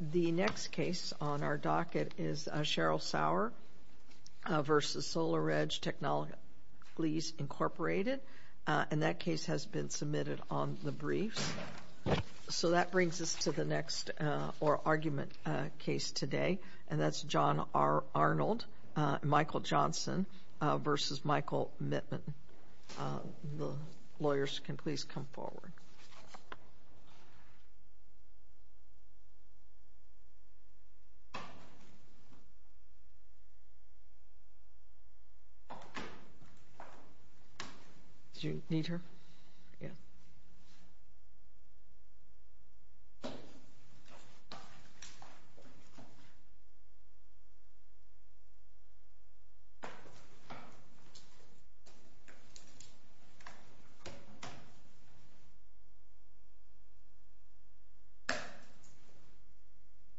The next case on our docket is Cheryl Sauer v. Solar Edge Technologies, Inc. And that case has been submitted on the briefs. So that brings us to the next argument case today, and that's John Arnold v. Michael Johnson v. Michael Mittman. The lawyers can please come forward. Do you need her?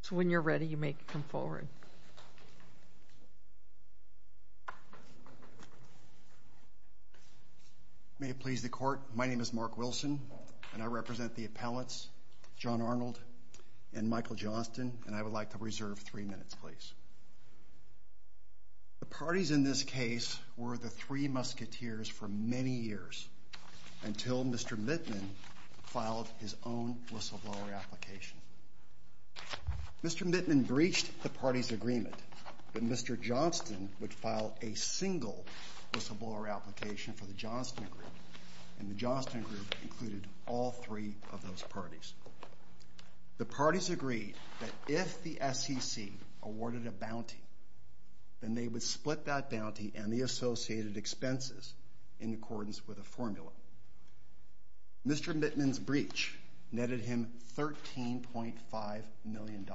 So when you're ready, you may come forward. May it please the Court, my name is Mark Wilson, and I represent the appellants, John Arnold and Michael Johnson, and I would like to reserve three minutes, please. The parties in this case were the three musketeers for many years until Mr. Mittman filed his own whistleblower application. Mr. Mittman breached the party's agreement that Mr. Johnson would file a single whistleblower application for the Johnson Group, and the Johnson Group included all three of those parties. The parties agreed that if the SEC awarded a bounty, then they would split that bounty and the associated expenses in accordance with a formula. Mr. Mittman's breach netted him $13.5 million,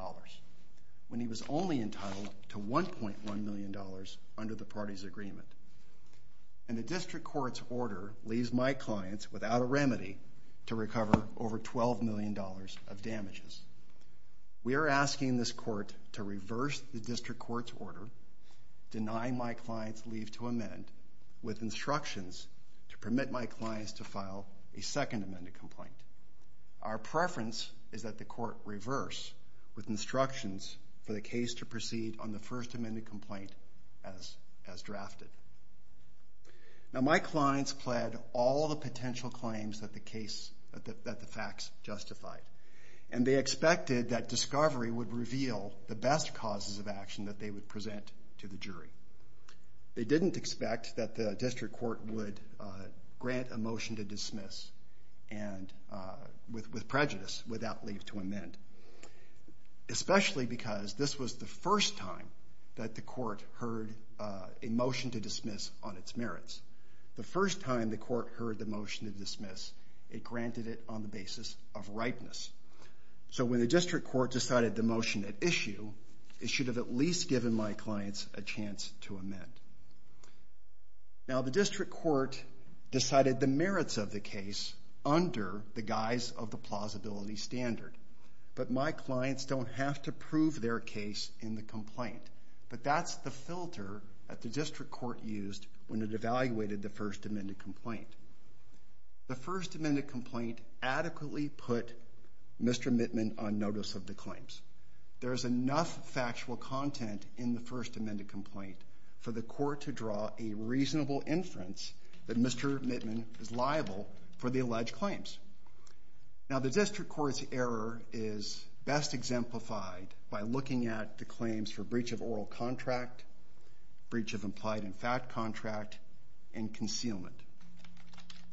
when he was only entitled to $1.1 million under the party's agreement. And the District Court's order leaves my clients without a remedy to recover over $12 million of damages. We are asking this Court to reverse the District Court's order denying my clients leave to amend with instructions to permit my clients to file a second amended complaint. Our preference is that the Court reverse with instructions for the case to proceed on the first amended complaint as drafted. Now my clients pled all the potential claims that the facts justified, and they expected that discovery would reveal the best causes of action that they would present to the jury. They didn't expect that the District Court would grant a motion to dismiss with prejudice, without leave to amend. Especially because this was the first time that the Court heard a motion to dismiss on its merits. The first time the Court heard the motion to dismiss, it granted it on the basis of ripeness. So when the District Court decided the motion at issue, it should have at least given my clients a chance to amend. Now the District Court decided the merits of the case under the guise of the plausibility standard. But my clients don't have to prove their case in the complaint. But that's the filter that the District Court used when it evaluated the first amended complaint. The first amended complaint adequately put Mr. Mittman on notice of the claims. There is enough factual content in the first amended complaint for the Court to draw a reasonable inference that Mr. Mittman is liable for the alleged claims. Now the District Court's error is best exemplified by looking at the claims for breach of oral contract, breach of implied in fact contract, and concealment.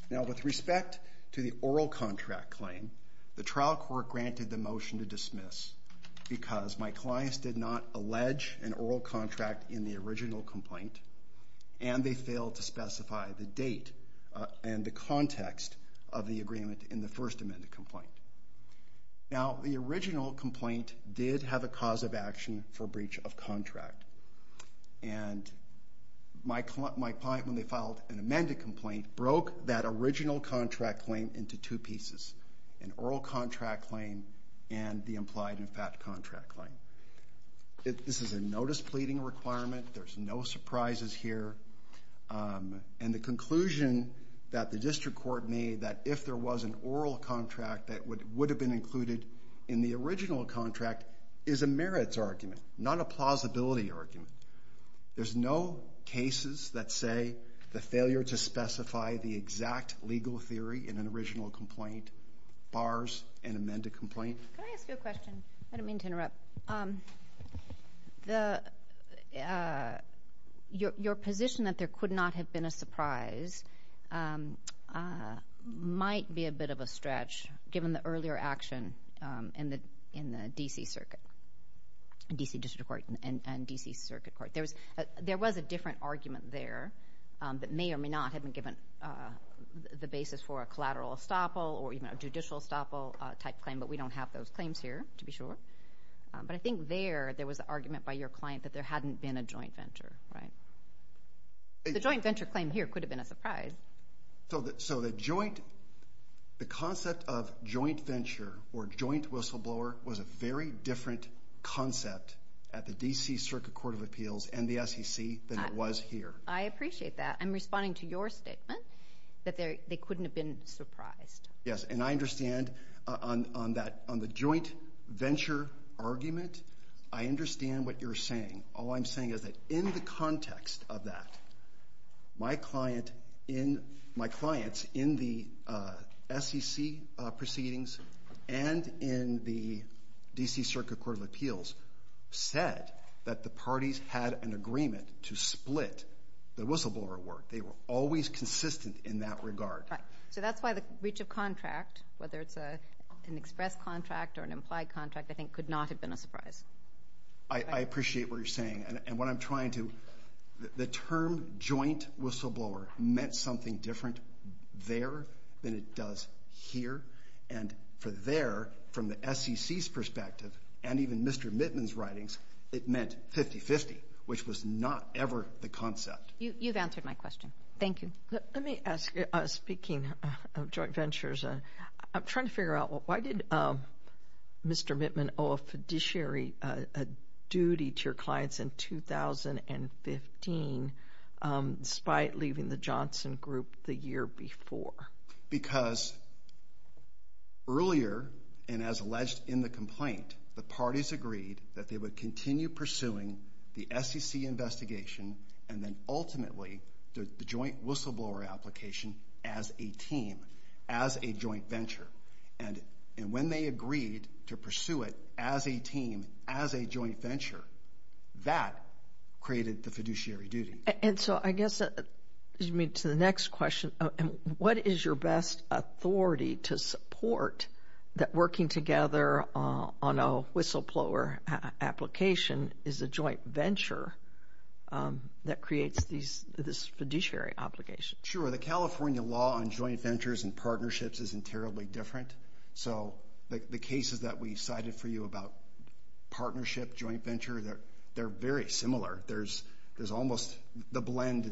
Now with respect to the oral contract claim, the trial court granted the motion to dismiss because my clients did not allege an oral contract in the original complaint and they failed to specify the date and the context of the agreement in the first amended complaint. Now the original complaint did have a cause of action for breach of contract. And my client, when they filed an amended complaint, broke that original contract claim into two pieces, an oral contract claim and the implied in fact contract claim. This is a notice pleading requirement. There's no surprises here. And the conclusion that the District Court made that if there was an oral contract that would have been included in the original contract is a merits argument, not a plausibility argument. There's no cases that say the failure to specify the exact legal theory in an original complaint bars an amended complaint. Your position that there could not have been a surprise might be a bit of a stretch given the earlier action in the D.C. Circuit, D.C. District Court and D.C. Circuit Court. There was a different argument there that may or may not have been given the basis for a collateral estoppel or even a judicial estoppel type claim, but we don't have those claims here to be sure. But I think there there was an argument by your client that there hadn't been a joint venture, right? The joint venture claim here could have been a surprise. So the concept of joint venture or joint whistleblower was a very different concept at the D.C. Circuit Court of Appeals and the SEC than it was here. I appreciate that. I'm responding to your statement that they couldn't have been surprised. Yes, and I understand on the joint venture argument, I understand what you're saying. All I'm saying is that in the context of that, my clients in the SEC proceedings and in the D.C. Circuit Court of Appeals said that the parties had an agreement to split the whistleblower work. They were always consistent in that regard. So that's why the breach of contract, whether it's an express contract or an implied contract, I think could not have been a surprise. I appreciate what you're saying. And what I'm trying to do, the term joint whistleblower meant something different there than it does here. And for there, from the SEC's perspective and even Mr. Mittman's writings, it meant 50-50, which was not ever the concept. You've answered my question. Thank you. Let me ask you, speaking of joint ventures, I'm trying to figure out why did Mr. Mittman owe a fiduciary duty to your clients in 2015 despite leaving the Johnson Group the year before? Because earlier, and as alleged in the complaint, the parties agreed that they would continue pursuing the SEC investigation and then ultimately the joint whistleblower application as a team, as a joint venture. And when they agreed to pursue it as a team, as a joint venture, that created the fiduciary duty. And so I guess to the next question, what is your best authority to support that working together on a whistleblower application is a joint venture that creates this fiduciary obligation? Sure. The California law on joint ventures and partnerships isn't terribly different. So the cases that we cited for you about partnership, joint venture, they're very similar. The blend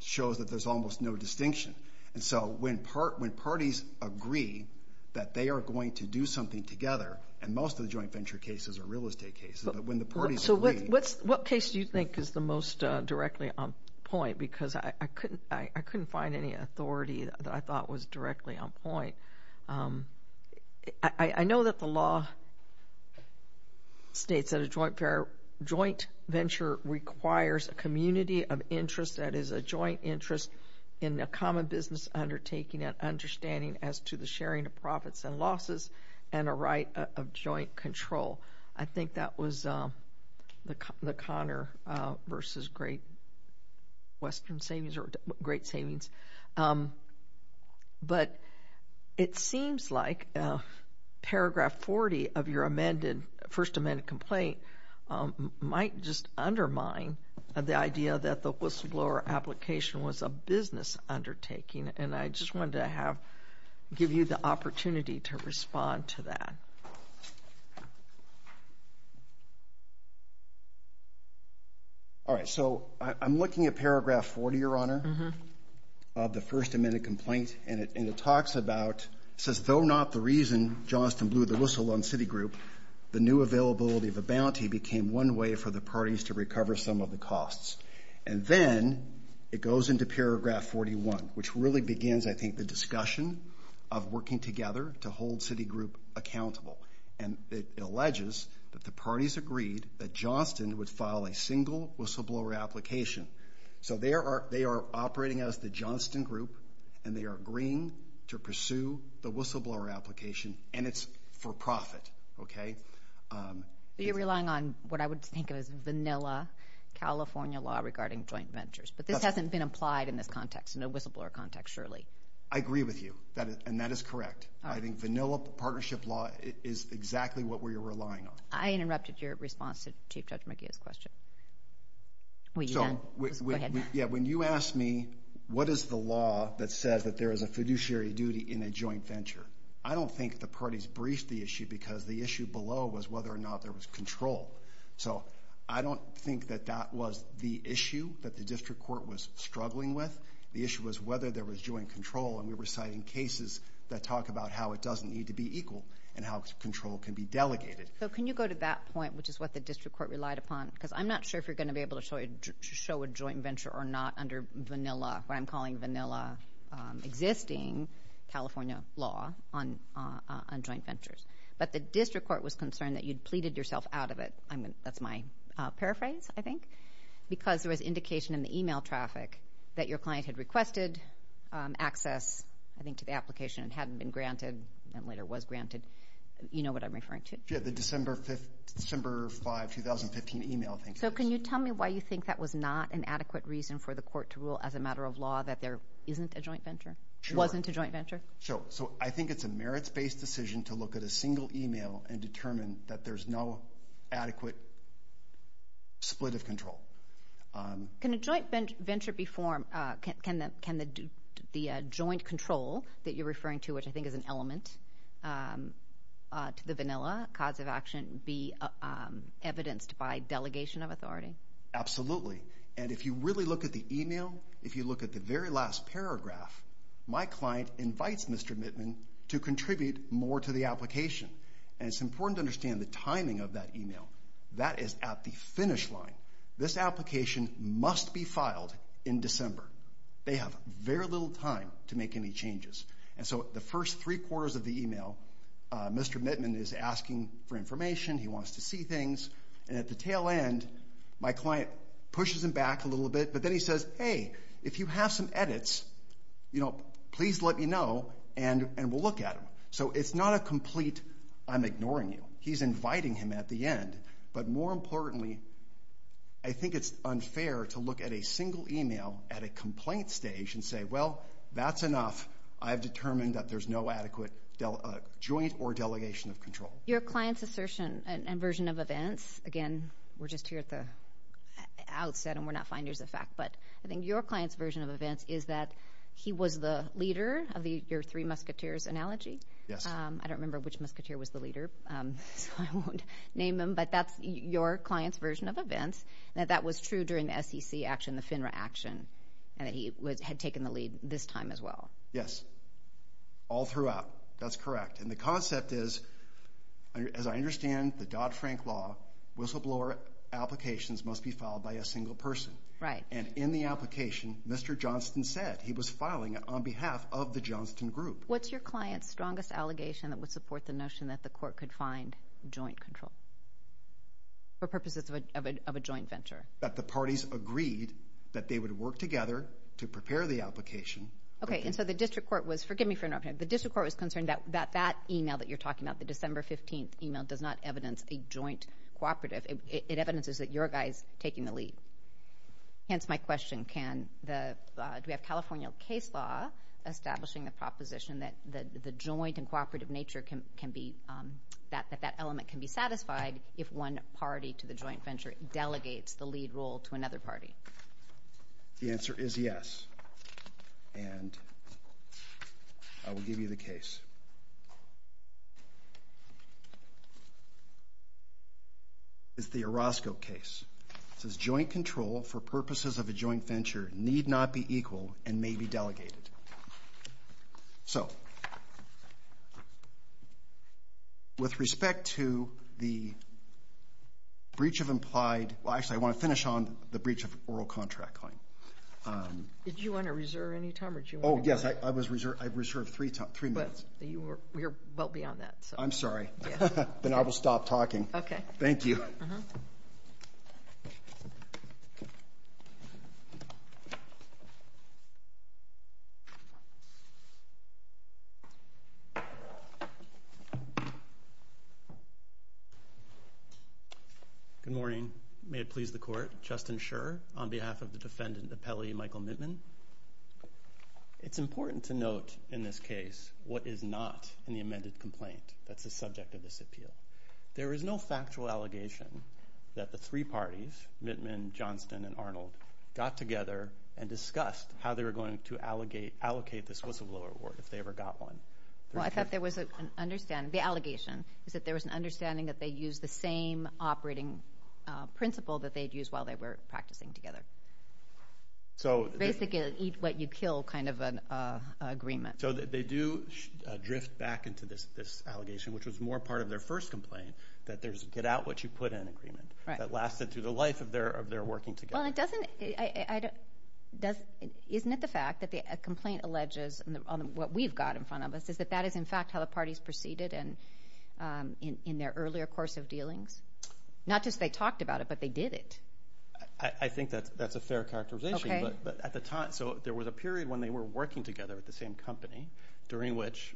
shows that there's almost no distinction. And so when parties agree that they are going to do something together, and most of the joint venture cases are real estate cases, but when the parties agree. So what case do you think is the most directly on point? Because I couldn't find any authority that I thought was directly on point. I know that the law states that a joint venture requires a community of interest, that is, a joint interest in a common business undertaking and understanding as to the sharing of profits and losses and a right of joint control. I think that was the Connor versus Great Western Savings or Great Savings. But it seems like Paragraph 40 of your First Amendment complaint might just undermine the idea that the whistleblower application was a business undertaking. And I just wanted to give you the opportunity to respond to that. All right. So I'm looking at Paragraph 40, Your Honor, of the First Amendment complaint, and it says, Though not the reason Johnston blew the whistle on Citigroup, the new availability of a bounty became one way for the parties to recover some of the costs. And then it goes into Paragraph 41, which really begins, I think, the discussion of working together to hold Citigroup accountable. And it alleges that the parties agreed that Johnston would file a single whistleblower application. So they are operating as the Johnston Group, and they are agreeing to pursue the whistleblower application, and it's for profit, okay? You're relying on what I would think of as vanilla California law regarding joint ventures. But this hasn't been applied in this context, in a whistleblower context, surely. I agree with you, and that is correct. I think vanilla partnership law is exactly what we are relying on. I interrupted your response to Chief Judge McGeeh's question. Go ahead. Yeah, when you asked me, what is the law that says that there is a fiduciary duty in a joint venture, I don't think the parties briefed the issue because the issue below was whether or not there was control. So I don't think that that was the issue that the district court was struggling with. The issue was whether there was joint control, and we were citing cases that talk about how it doesn't need to be equal and how control can be delegated. So can you go to that point, which is what the district court relied upon? Because I'm not sure if you're going to be able to show a joint venture or not under vanilla, what I'm calling vanilla, existing California law on joint ventures. But the district court was concerned that you'd pleaded yourself out of it. That's my paraphrase, I think, because there was indication in the email traffic that your client had requested access, I think, to the application and hadn't been granted and later was granted. You know what I'm referring to? Yeah, the December 5, 2015 email. So can you tell me why you think that was not an adequate reason for the court to rule as a matter of law that there isn't a joint venture? Sure. It wasn't a joint venture? Sure. So I think it's a merits-based decision to look at a single email and determine that there's no adequate split of control. Can a joint venture be formed? Can the joint control that you're referring to, which I think is an element to the vanilla cause of action, be evidenced by delegation of authority? Absolutely. And if you really look at the email, if you look at the very last paragraph, my client invites Mr. Mittman to contribute more to the application. And it's important to understand the timing of that email. That is at the finish line. This application must be filed in December. They have very little time to make any changes. And so the first three quarters of the email, Mr. Mittman is asking for information. He wants to see things. And at the tail end, my client pushes him back a little bit, but then he says, Hey, if you have some edits, please let me know and we'll look at them. So it's not a complete I'm ignoring you. He's inviting him at the end. But more importantly, I think it's unfair to look at a single email at a complaint stage and say, Well, that's enough. I've determined that there's no adequate joint or delegation of control. Your client's assertion and version of events, again, we're just here at the outset and we're not finders of fact, but I think your client's version of events is that he was the leader of your three musketeers analogy. Yes. I don't remember which musketeer was the leader, so I won't name him. But that's your client's version of events, that that was true during the SEC action, the FINRA action, and that he had taken the lead this time as well. Yes. All throughout. That's correct. And the concept is, as I understand the Dodd-Frank law, whistleblower applications must be filed by a single person. Right. And in the application, Mr. Johnston said he was filing it on behalf of the Johnston group. What's your client's strongest allegation that would support the notion that the court could find joint control for purposes of a joint venture? That the parties agreed that they would work together to prepare the application. Okay, and so the district court was, forgive me for interrupting, the district court was concerned that that e-mail that you're talking about, the December 15th e-mail, does not evidence a joint cooperative. It evidences that your guy's taking the lead. Hence my question, do we have California case law establishing the proposition that the joint and cooperative nature can be, that that element can be satisfied if one party to the joint venture delegates the lead role to another party? The answer is yes. And I will give you the case. It's the Orozco case. It says joint control for purposes of a joint venture need not be equal and may be delegated. So with respect to the breach of implied, well, actually I want to finish on the breach of oral contract claim. Did you want to reserve any time? Oh, yes, I reserved three minutes. We're well beyond that. I'm sorry. Then I will stop talking. Okay. Thank you. Good morning. May it please the Court. Justin Scherr on behalf of the defendant appellee Michael Mittman. It's important to note in this case what is not in the amended complaint that's the subject of this appeal. There is no factual allegation that the three parties, Mittman, Johnston, and Arnold, got together and discussed how they were going to allocate the whistleblower award if they ever got one. Well, I thought there was an understanding. The allegation is that there was an understanding that they used the same operating principle that they had used while they were practicing together. Basically an eat what you kill kind of an agreement. So they do drift back into this allegation, which was more part of their first complaint, that there's a get out what you put in agreement that lasted through the life of their working together. Isn't it the fact that the complaint alleges, what we've got in front of us, is that that is in fact how the parties proceeded in their earlier course of dealings? Not just they talked about it, but they did it. I think that's a fair characterization. So there was a period when they were working together at the same company during which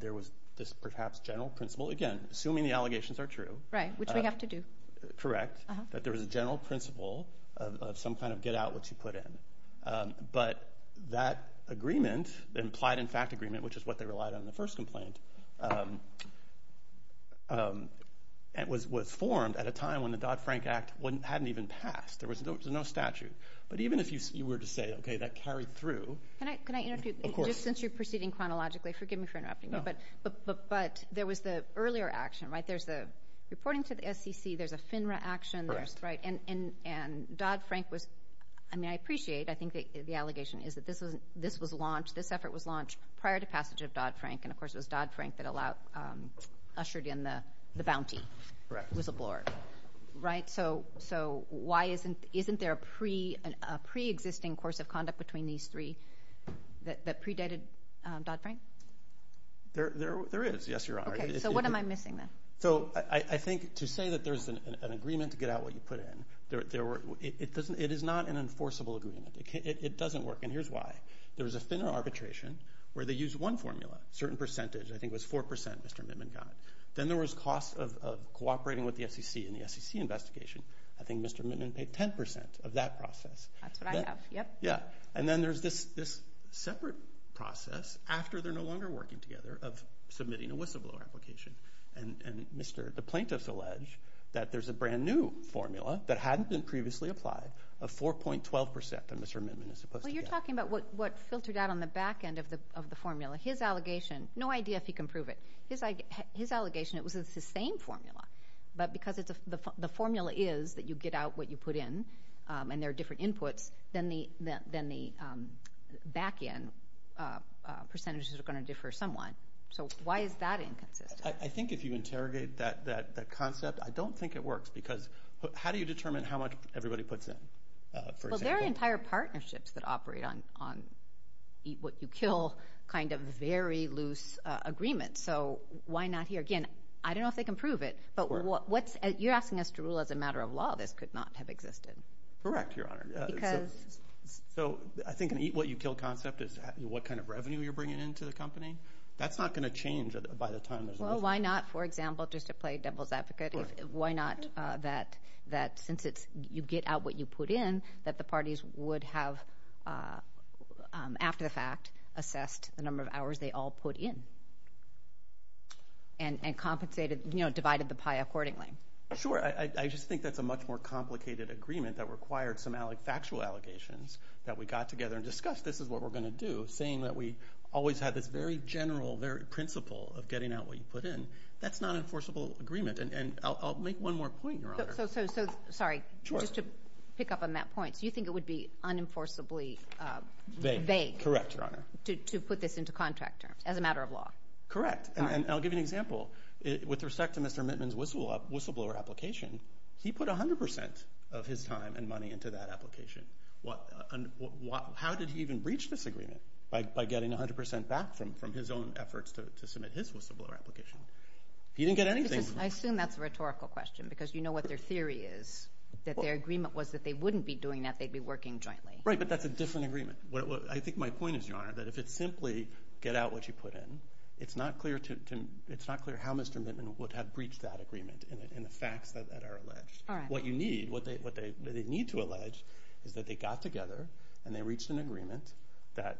there was this perhaps general principle, again, assuming the allegations are true. Right, which we have to do. Correct, that there was a general principle of some kind of get out what you put in. But that agreement, implied in fact agreement, which is what they relied on in the first complaint, was formed at a time when the Dodd-Frank Act hadn't even passed. There was no statute. But even if you were to say, okay, that carried through. Can I interrupt you? Of course. Just since you're proceeding chronologically, forgive me for interrupting you. But there was the earlier action, right? There's the reporting to the SEC. There's a FINRA action. Correct. And Dodd-Frank was, I mean, I appreciate, I think the allegation is that this was launched, this effort was launched prior to passage of Dodd-Frank. And, of course, it was Dodd-Frank that ushered in the bounty whistleblower. Right. So why isn't there a preexisting course of conduct between these three that predated Dodd-Frank? There is, yes, Your Honor. Okay. So what am I missing then? So I think to say that there's an agreement to get out what you put in, it is not an enforceable agreement. It doesn't work. And here's why. There was a FINRA arbitration where they used one formula, a certain percentage. I think it was 4 percent Mr. Mittman got. Then there was costs of cooperating with the SEC in the SEC investigation. I think Mr. Mittman paid 10 percent of that process. That's what I have. Yep. Yeah. And then there's this separate process after they're no longer working together of submitting a whistleblower application and the plaintiffs allege that there's a brand new formula that hadn't been previously applied of 4.12 percent that Mr. Mittman is supposed to get. Well, you're talking about what filtered out on the back end of the formula. His allegation, no idea if he can prove it, his allegation it was the same formula, but because the formula is that you get out what you put in and there are different inputs, then the back end percentages are going to differ somewhat. So why is that inconsistent? I think if you interrogate that concept, I don't think it works because how do you determine how much everybody puts in? Well, there are entire partnerships that operate on eat what you kill kind of very loose agreements. So why not here? Again, I don't know if they can prove it, but you're asking us to rule as a matter of law this could not have existed. Correct, Your Honor. Because? So I think an eat what you kill concept is what kind of revenue you're bringing into the company. That's not going to change by the time there's a lawsuit. Well, why not, for example, just to play devil's advocate, why not that since you get out what you put in that the parties would have, after the fact, assessed the number of hours they all put in and compensated, you know, divided the pie accordingly? Sure. I just think that's a much more complicated agreement that required some factual allegations that we got together and discussed this is what we're going to do, and you're saying that we always had this very general principle of getting out what you put in. That's not an enforceable agreement, and I'll make one more point, Your Honor. So, sorry, just to pick up on that point. So you think it would be unenforceably vague to put this into contract terms as a matter of law? Correct, and I'll give you an example. With respect to Mr. Mittman's whistleblower application, he put 100 percent of his time and money into that application. How did he even reach this agreement? By getting 100 percent back from his own efforts to submit his whistleblower application. He didn't get anything. I assume that's a rhetorical question because you know what their theory is, that their agreement was that they wouldn't be doing that, they'd be working jointly. Right, but that's a different agreement. I think my point is, Your Honor, that if it's simply get out what you put in, it's not clear how Mr. Mittman would have breached that agreement and the facts that are alleged. All right. What you need, what they need to allege is that they got together and they reached an agreement that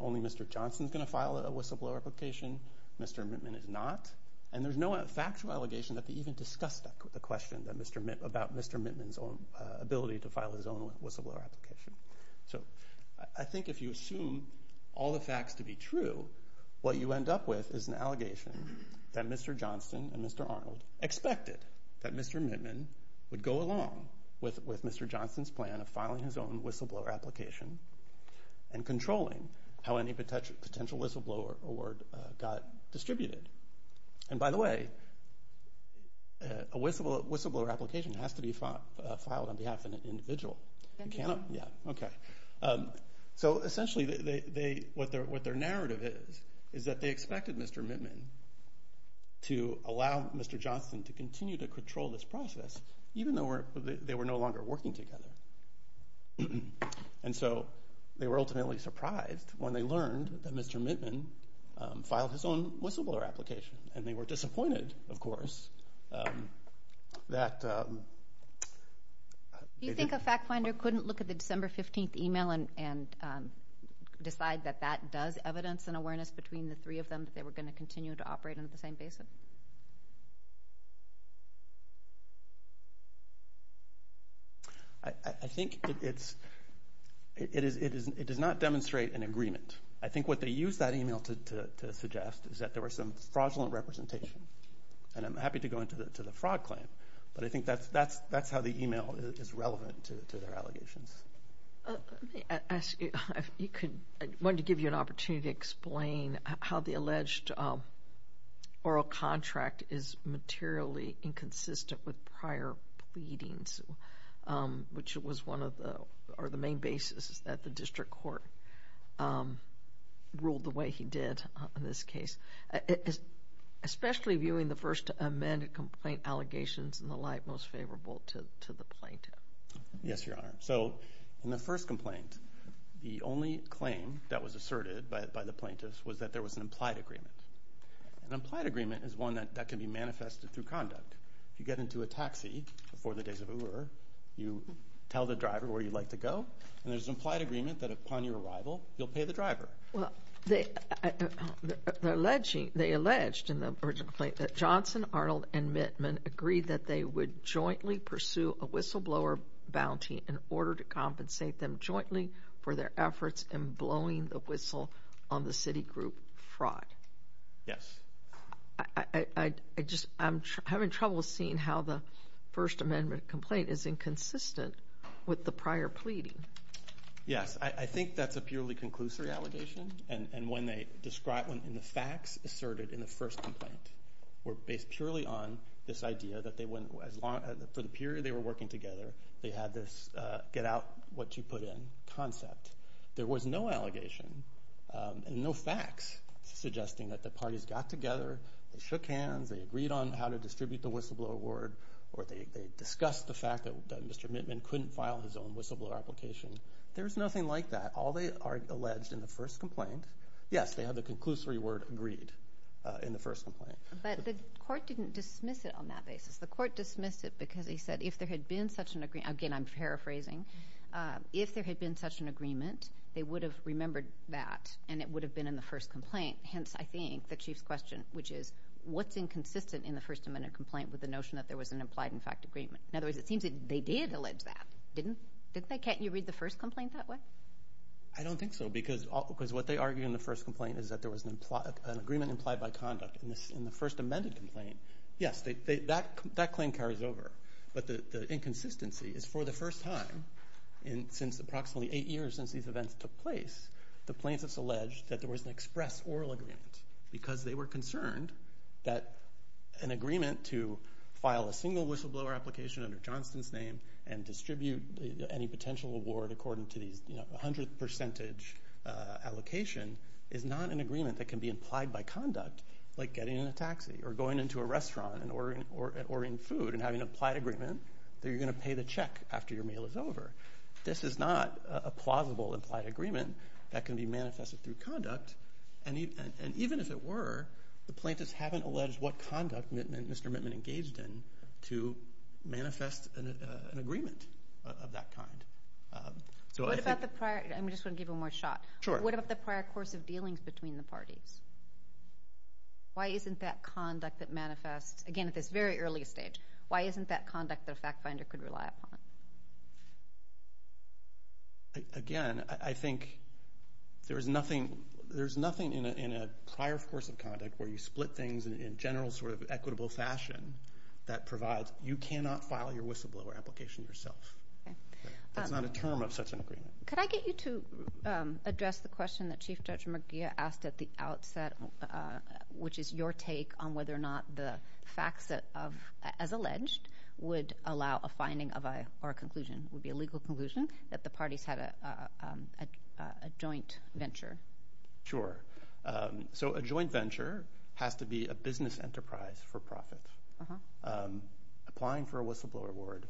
only Mr. Johnson's going to file a whistleblower application, Mr. Mittman is not, and there's no factual allegation that they even discussed the question about Mr. Mittman's ability to file his own whistleblower application. So I think if you assume all the facts to be true, what you end up with is an allegation that Mr. Johnson and Mr. Arnold expected that Mr. Mittman would go along with Mr. Johnson's plan of filing his own whistleblower application and controlling how any potential whistleblower award got distributed. And by the way, a whistleblower application has to be filed on behalf of an individual. Okay. So essentially what their narrative is, is that they expected Mr. Mittman to allow Mr. Johnson to continue to control this process even though they were no longer working together. And so they were ultimately surprised when they learned that Mr. Mittman filed his own whistleblower application and they were disappointed, of course, that... Do you think a fact finder couldn't look at the December 15th email and decide that that does evidence and awareness between the three of them that they were going to continue to operate on the same basis? I think it does not demonstrate an agreement. I think what they used that email to suggest is that there was some fraudulent representation, and I'm happy to go into the fraud claim, but I think that's how the email is relevant to their allegations. Let me ask you, I wanted to give you an opportunity to explain how the alleged oral contract is materially inconsistent with prior pleadings, which was one of the main basis that the district court ruled the way he did in this case. Especially viewing the first amended complaint allegations in the light most favorable to the plaintiff. Yes, Your Honor. So in the first complaint, the only claim that was asserted by the plaintiffs was that there was an implied agreement. An implied agreement is one that can be manifested through conduct. If you get into a taxi before the days of Uber, you tell the driver where you'd like to go, and there's an implied agreement that upon your arrival, you'll pay the driver. Well, they alleged in the original complaint that Johnson, Arnold, and Mittman agreed that they would jointly pursue a whistleblower bounty in order to compensate them jointly for their efforts in blowing the whistle on the city group fraud. Yes. I'm having trouble seeing how the first amendment complaint is inconsistent with the prior pleading. Yes. I think that's a purely conclusory allegation. And when the facts asserted in the first complaint were based purely on this idea that for the period they were working together, they had this get out what you put in concept. There was no allegation and no facts suggesting that the parties got together, they shook hands, they agreed on how to distribute the whistleblower award, or they discussed the fact that Mr. Mittman couldn't file his own whistleblower application. There's nothing like that. All they are alleged in the first complaint, yes, they have the conclusory word agreed in the first complaint. But the court didn't dismiss it on that basis. The court dismissed it because he said if there had been such an agreement, again, I'm paraphrasing, if there had been such an agreement, they would have remembered that, and it would have been in the first complaint. Hence, I think, the Chief's question, which is what's inconsistent in the first amendment complaint with the notion that there was an implied in fact agreement. In other words, it seems that they did allege that, didn't they? Can't you read the first complaint that way? I don't think so because what they argue in the first complaint is that there was an agreement implied by conduct. In the first amended complaint, yes, that claim carries over. But the inconsistency is for the first time in approximately eight years since these events took place, the plaintiffs alleged that there was an express oral agreement because they were concerned that an agreement to file a single whistleblower application under Johnston's name and distribute any potential award according to these 100th percentage allocation is not an agreement that can be implied by conduct like getting in a taxi or going into a restaurant or ordering food and having an implied agreement that you're going to pay the check after your meal is over. This is not a plausible implied agreement that can be manifested through conduct. And even if it were, the plaintiffs haven't alleged what conduct Mr. Mittman engaged in to manifest an agreement of that kind. What about the prior course of dealings between the parties? Why isn't that conduct that manifests, again at this very early stage, why isn't that conduct that a fact finder could rely upon? Again, I think there's nothing in a prior course of conduct where you split things in a general sort of equitable fashion that provides you cannot file your whistleblower application yourself. That's not a term of such an agreement. Could I get you to address the question that Chief Judge McGee asked at the outset, which is your take on whether or not the facts as alleged would allow a finding or a conclusion, would be a legal conclusion, that the parties had a joint venture? Sure. So a joint venture has to be a business enterprise for profit. Applying for a whistleblower award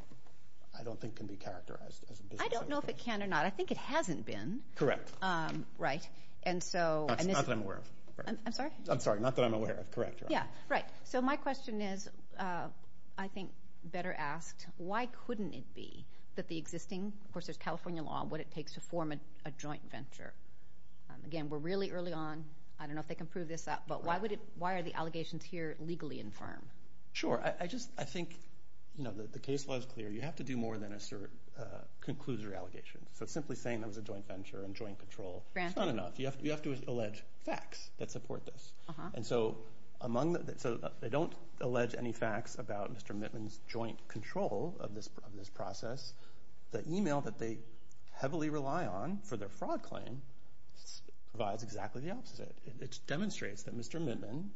I don't think can be characterized as a business enterprise. I don't know if it can or not. I think it hasn't been. Correct. Right. Not that I'm aware of. I'm sorry? I'm sorry. Not that I'm aware of. Correct. Yeah. Right. So my question is, I think better asked, why couldn't it be that the existing, of course there's California law on what it takes to form a joint venture. Again, we're really early on. I don't know if they can prove this up, but why are the allegations here legally infirm? Sure. I think the case law is clear. You have to do more than conclude your allegations. So simply saying there was a joint venture and joint control is not enough. You have to allege facts that support this. And so they don't allege any facts about Mr. Mittman's joint control of this process. The email that they heavily rely on for their fraud claim provides exactly the opposite. It demonstrates that Mr. Mittman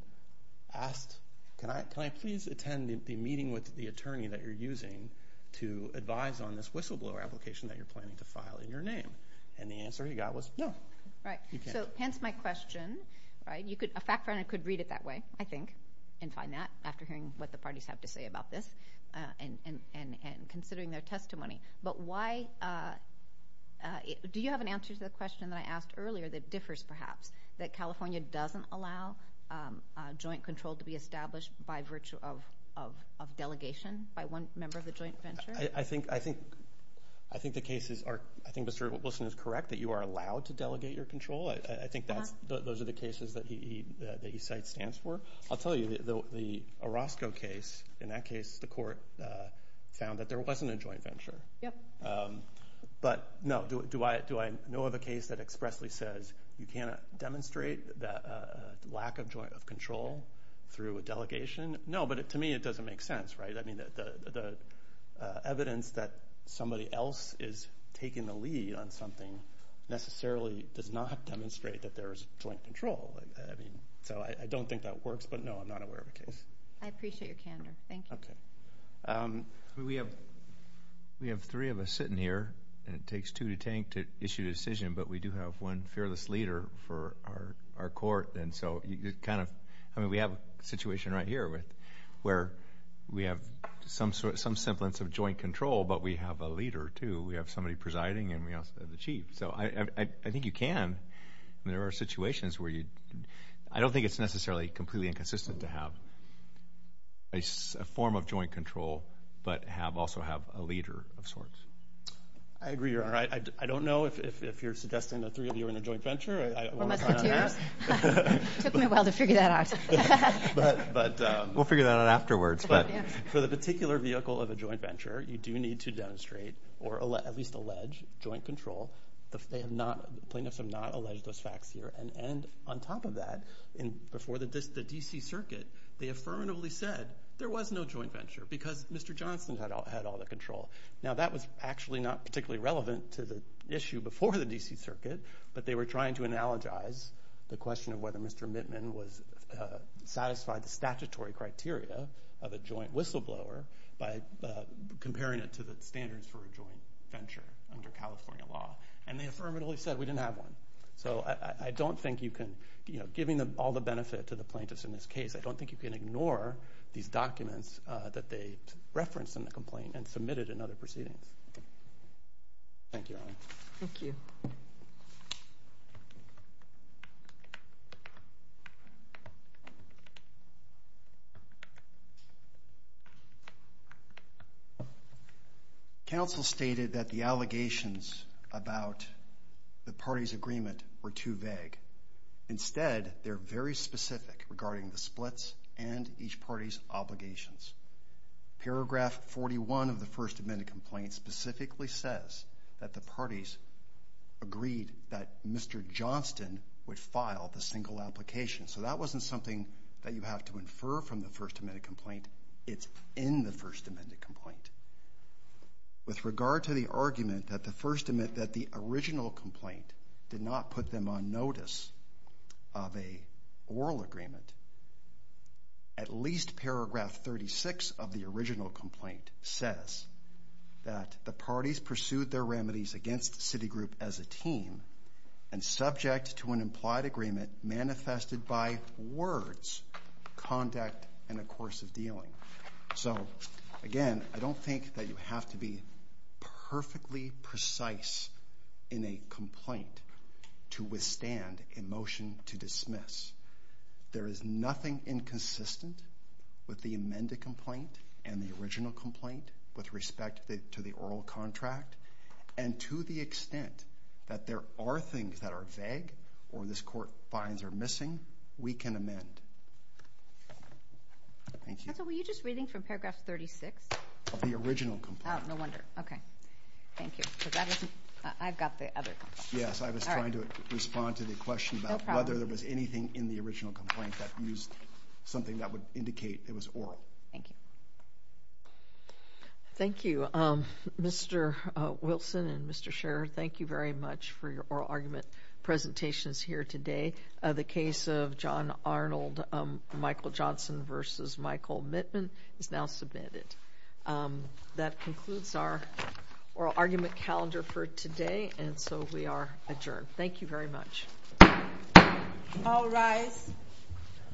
asked, can I please attend the meeting with the attorney that you're using to advise on this whistleblower application that you're planning to file in your name? And the answer he got was no. Right. So hence my question. A fact finder could read it that way, I think, and find that after hearing what the parties have to say about this and considering their testimony. But do you have an answer to the question that I asked earlier that differs perhaps, that California doesn't allow joint control to be established by virtue of delegation by one member of the joint venture? I think the case is correct that you are allowed to delegate your control. I think those are the cases that he cites stands for. I'll tell you, the Orozco case, in that case the court found that there wasn't a joint venture. Yep. But no, do I know of a case that expressly says you cannot demonstrate that lack of joint control through a delegation? No, but to me it doesn't make sense, right? I mean, the evidence that somebody else is taking the lead on something necessarily does not demonstrate that there is joint control. So I don't think that works, but no, I'm not aware of a case. I appreciate your candor. Thank you. Okay. We have three of us sitting here, and it takes two to tank to issue a decision, but we do have one fearless leader for our court. And so you kind of – I mean, we have a situation right here where we have some semblance of joint control, but we have a leader, too. We have somebody presiding and we also have the chief. So I think you can. I mean, there are situations where you – I don't think it's necessarily completely inconsistent to have a form of joint control, but also have a leader of sorts. I agree, Your Honor. I don't know if you're suggesting the three of you are in a joint venture. I want to cut in on that. It took me a while to figure that out. We'll figure that out afterwards. But for the particular vehicle of a joint venture, you do need to demonstrate or at least allege joint control. The plaintiffs have not alleged those facts here. And on top of that, before the D.C. Circuit, they affirmatively said there was no joint venture because Mr. Johnson had all the control. Now, that was actually not particularly relevant to the issue before the D.C. Circuit, but they were trying to analogize the question of whether Mr. Mittman satisfied the statutory criteria of a joint whistleblower by comparing it to the standards for a joint venture under California law. And they affirmatively said we didn't have one. So I don't think you can – giving all the benefit to the plaintiffs in this case, I don't think you can ignore these documents that they referenced in the complaint and submitted in other proceedings. Thank you, Your Honor. Thank you. Counsel stated that the allegations about the parties' agreement were too vague. Instead, they're very specific regarding the splits and each party's obligations. Paragraph 41 of the first amendment complaint specifically says that the parties agreed that Mr. Johnson would file the single application. So that wasn't something that you have to infer from the first amendment complaint. It's in the first amendment complaint. With regard to the argument that the original complaint did not put them on notice of an oral agreement, at least paragraph 36 of the original complaint says that the parties pursued their remedies against Citigroup as a team and subject to an implied agreement manifested by words, conduct, and a course of dealing. So, again, I don't think that you have to be perfectly precise in a complaint to withstand a motion to dismiss. There is nothing inconsistent with the amended complaint and the original complaint with respect to the oral contract and to the extent that there are things that are vague or this court finds are missing, we can amend. Thank you. Counsel, were you just reading from paragraph 36? The original complaint. Oh, no wonder. Okay. Thank you. I've got the other complaint. Yes, I was trying to respond to the question about whether there was anything in the original complaint that used something that would indicate it was oral. Thank you. Thank you. Mr. Wilson and Mr. Scherer, thank you very much for your oral argument presentations here today. The case of John Arnold-Michael Johnson v. Michael Mittman is now submitted. That concludes our oral argument calendar for today, and so we are adjourned. Thank you very much. All rise.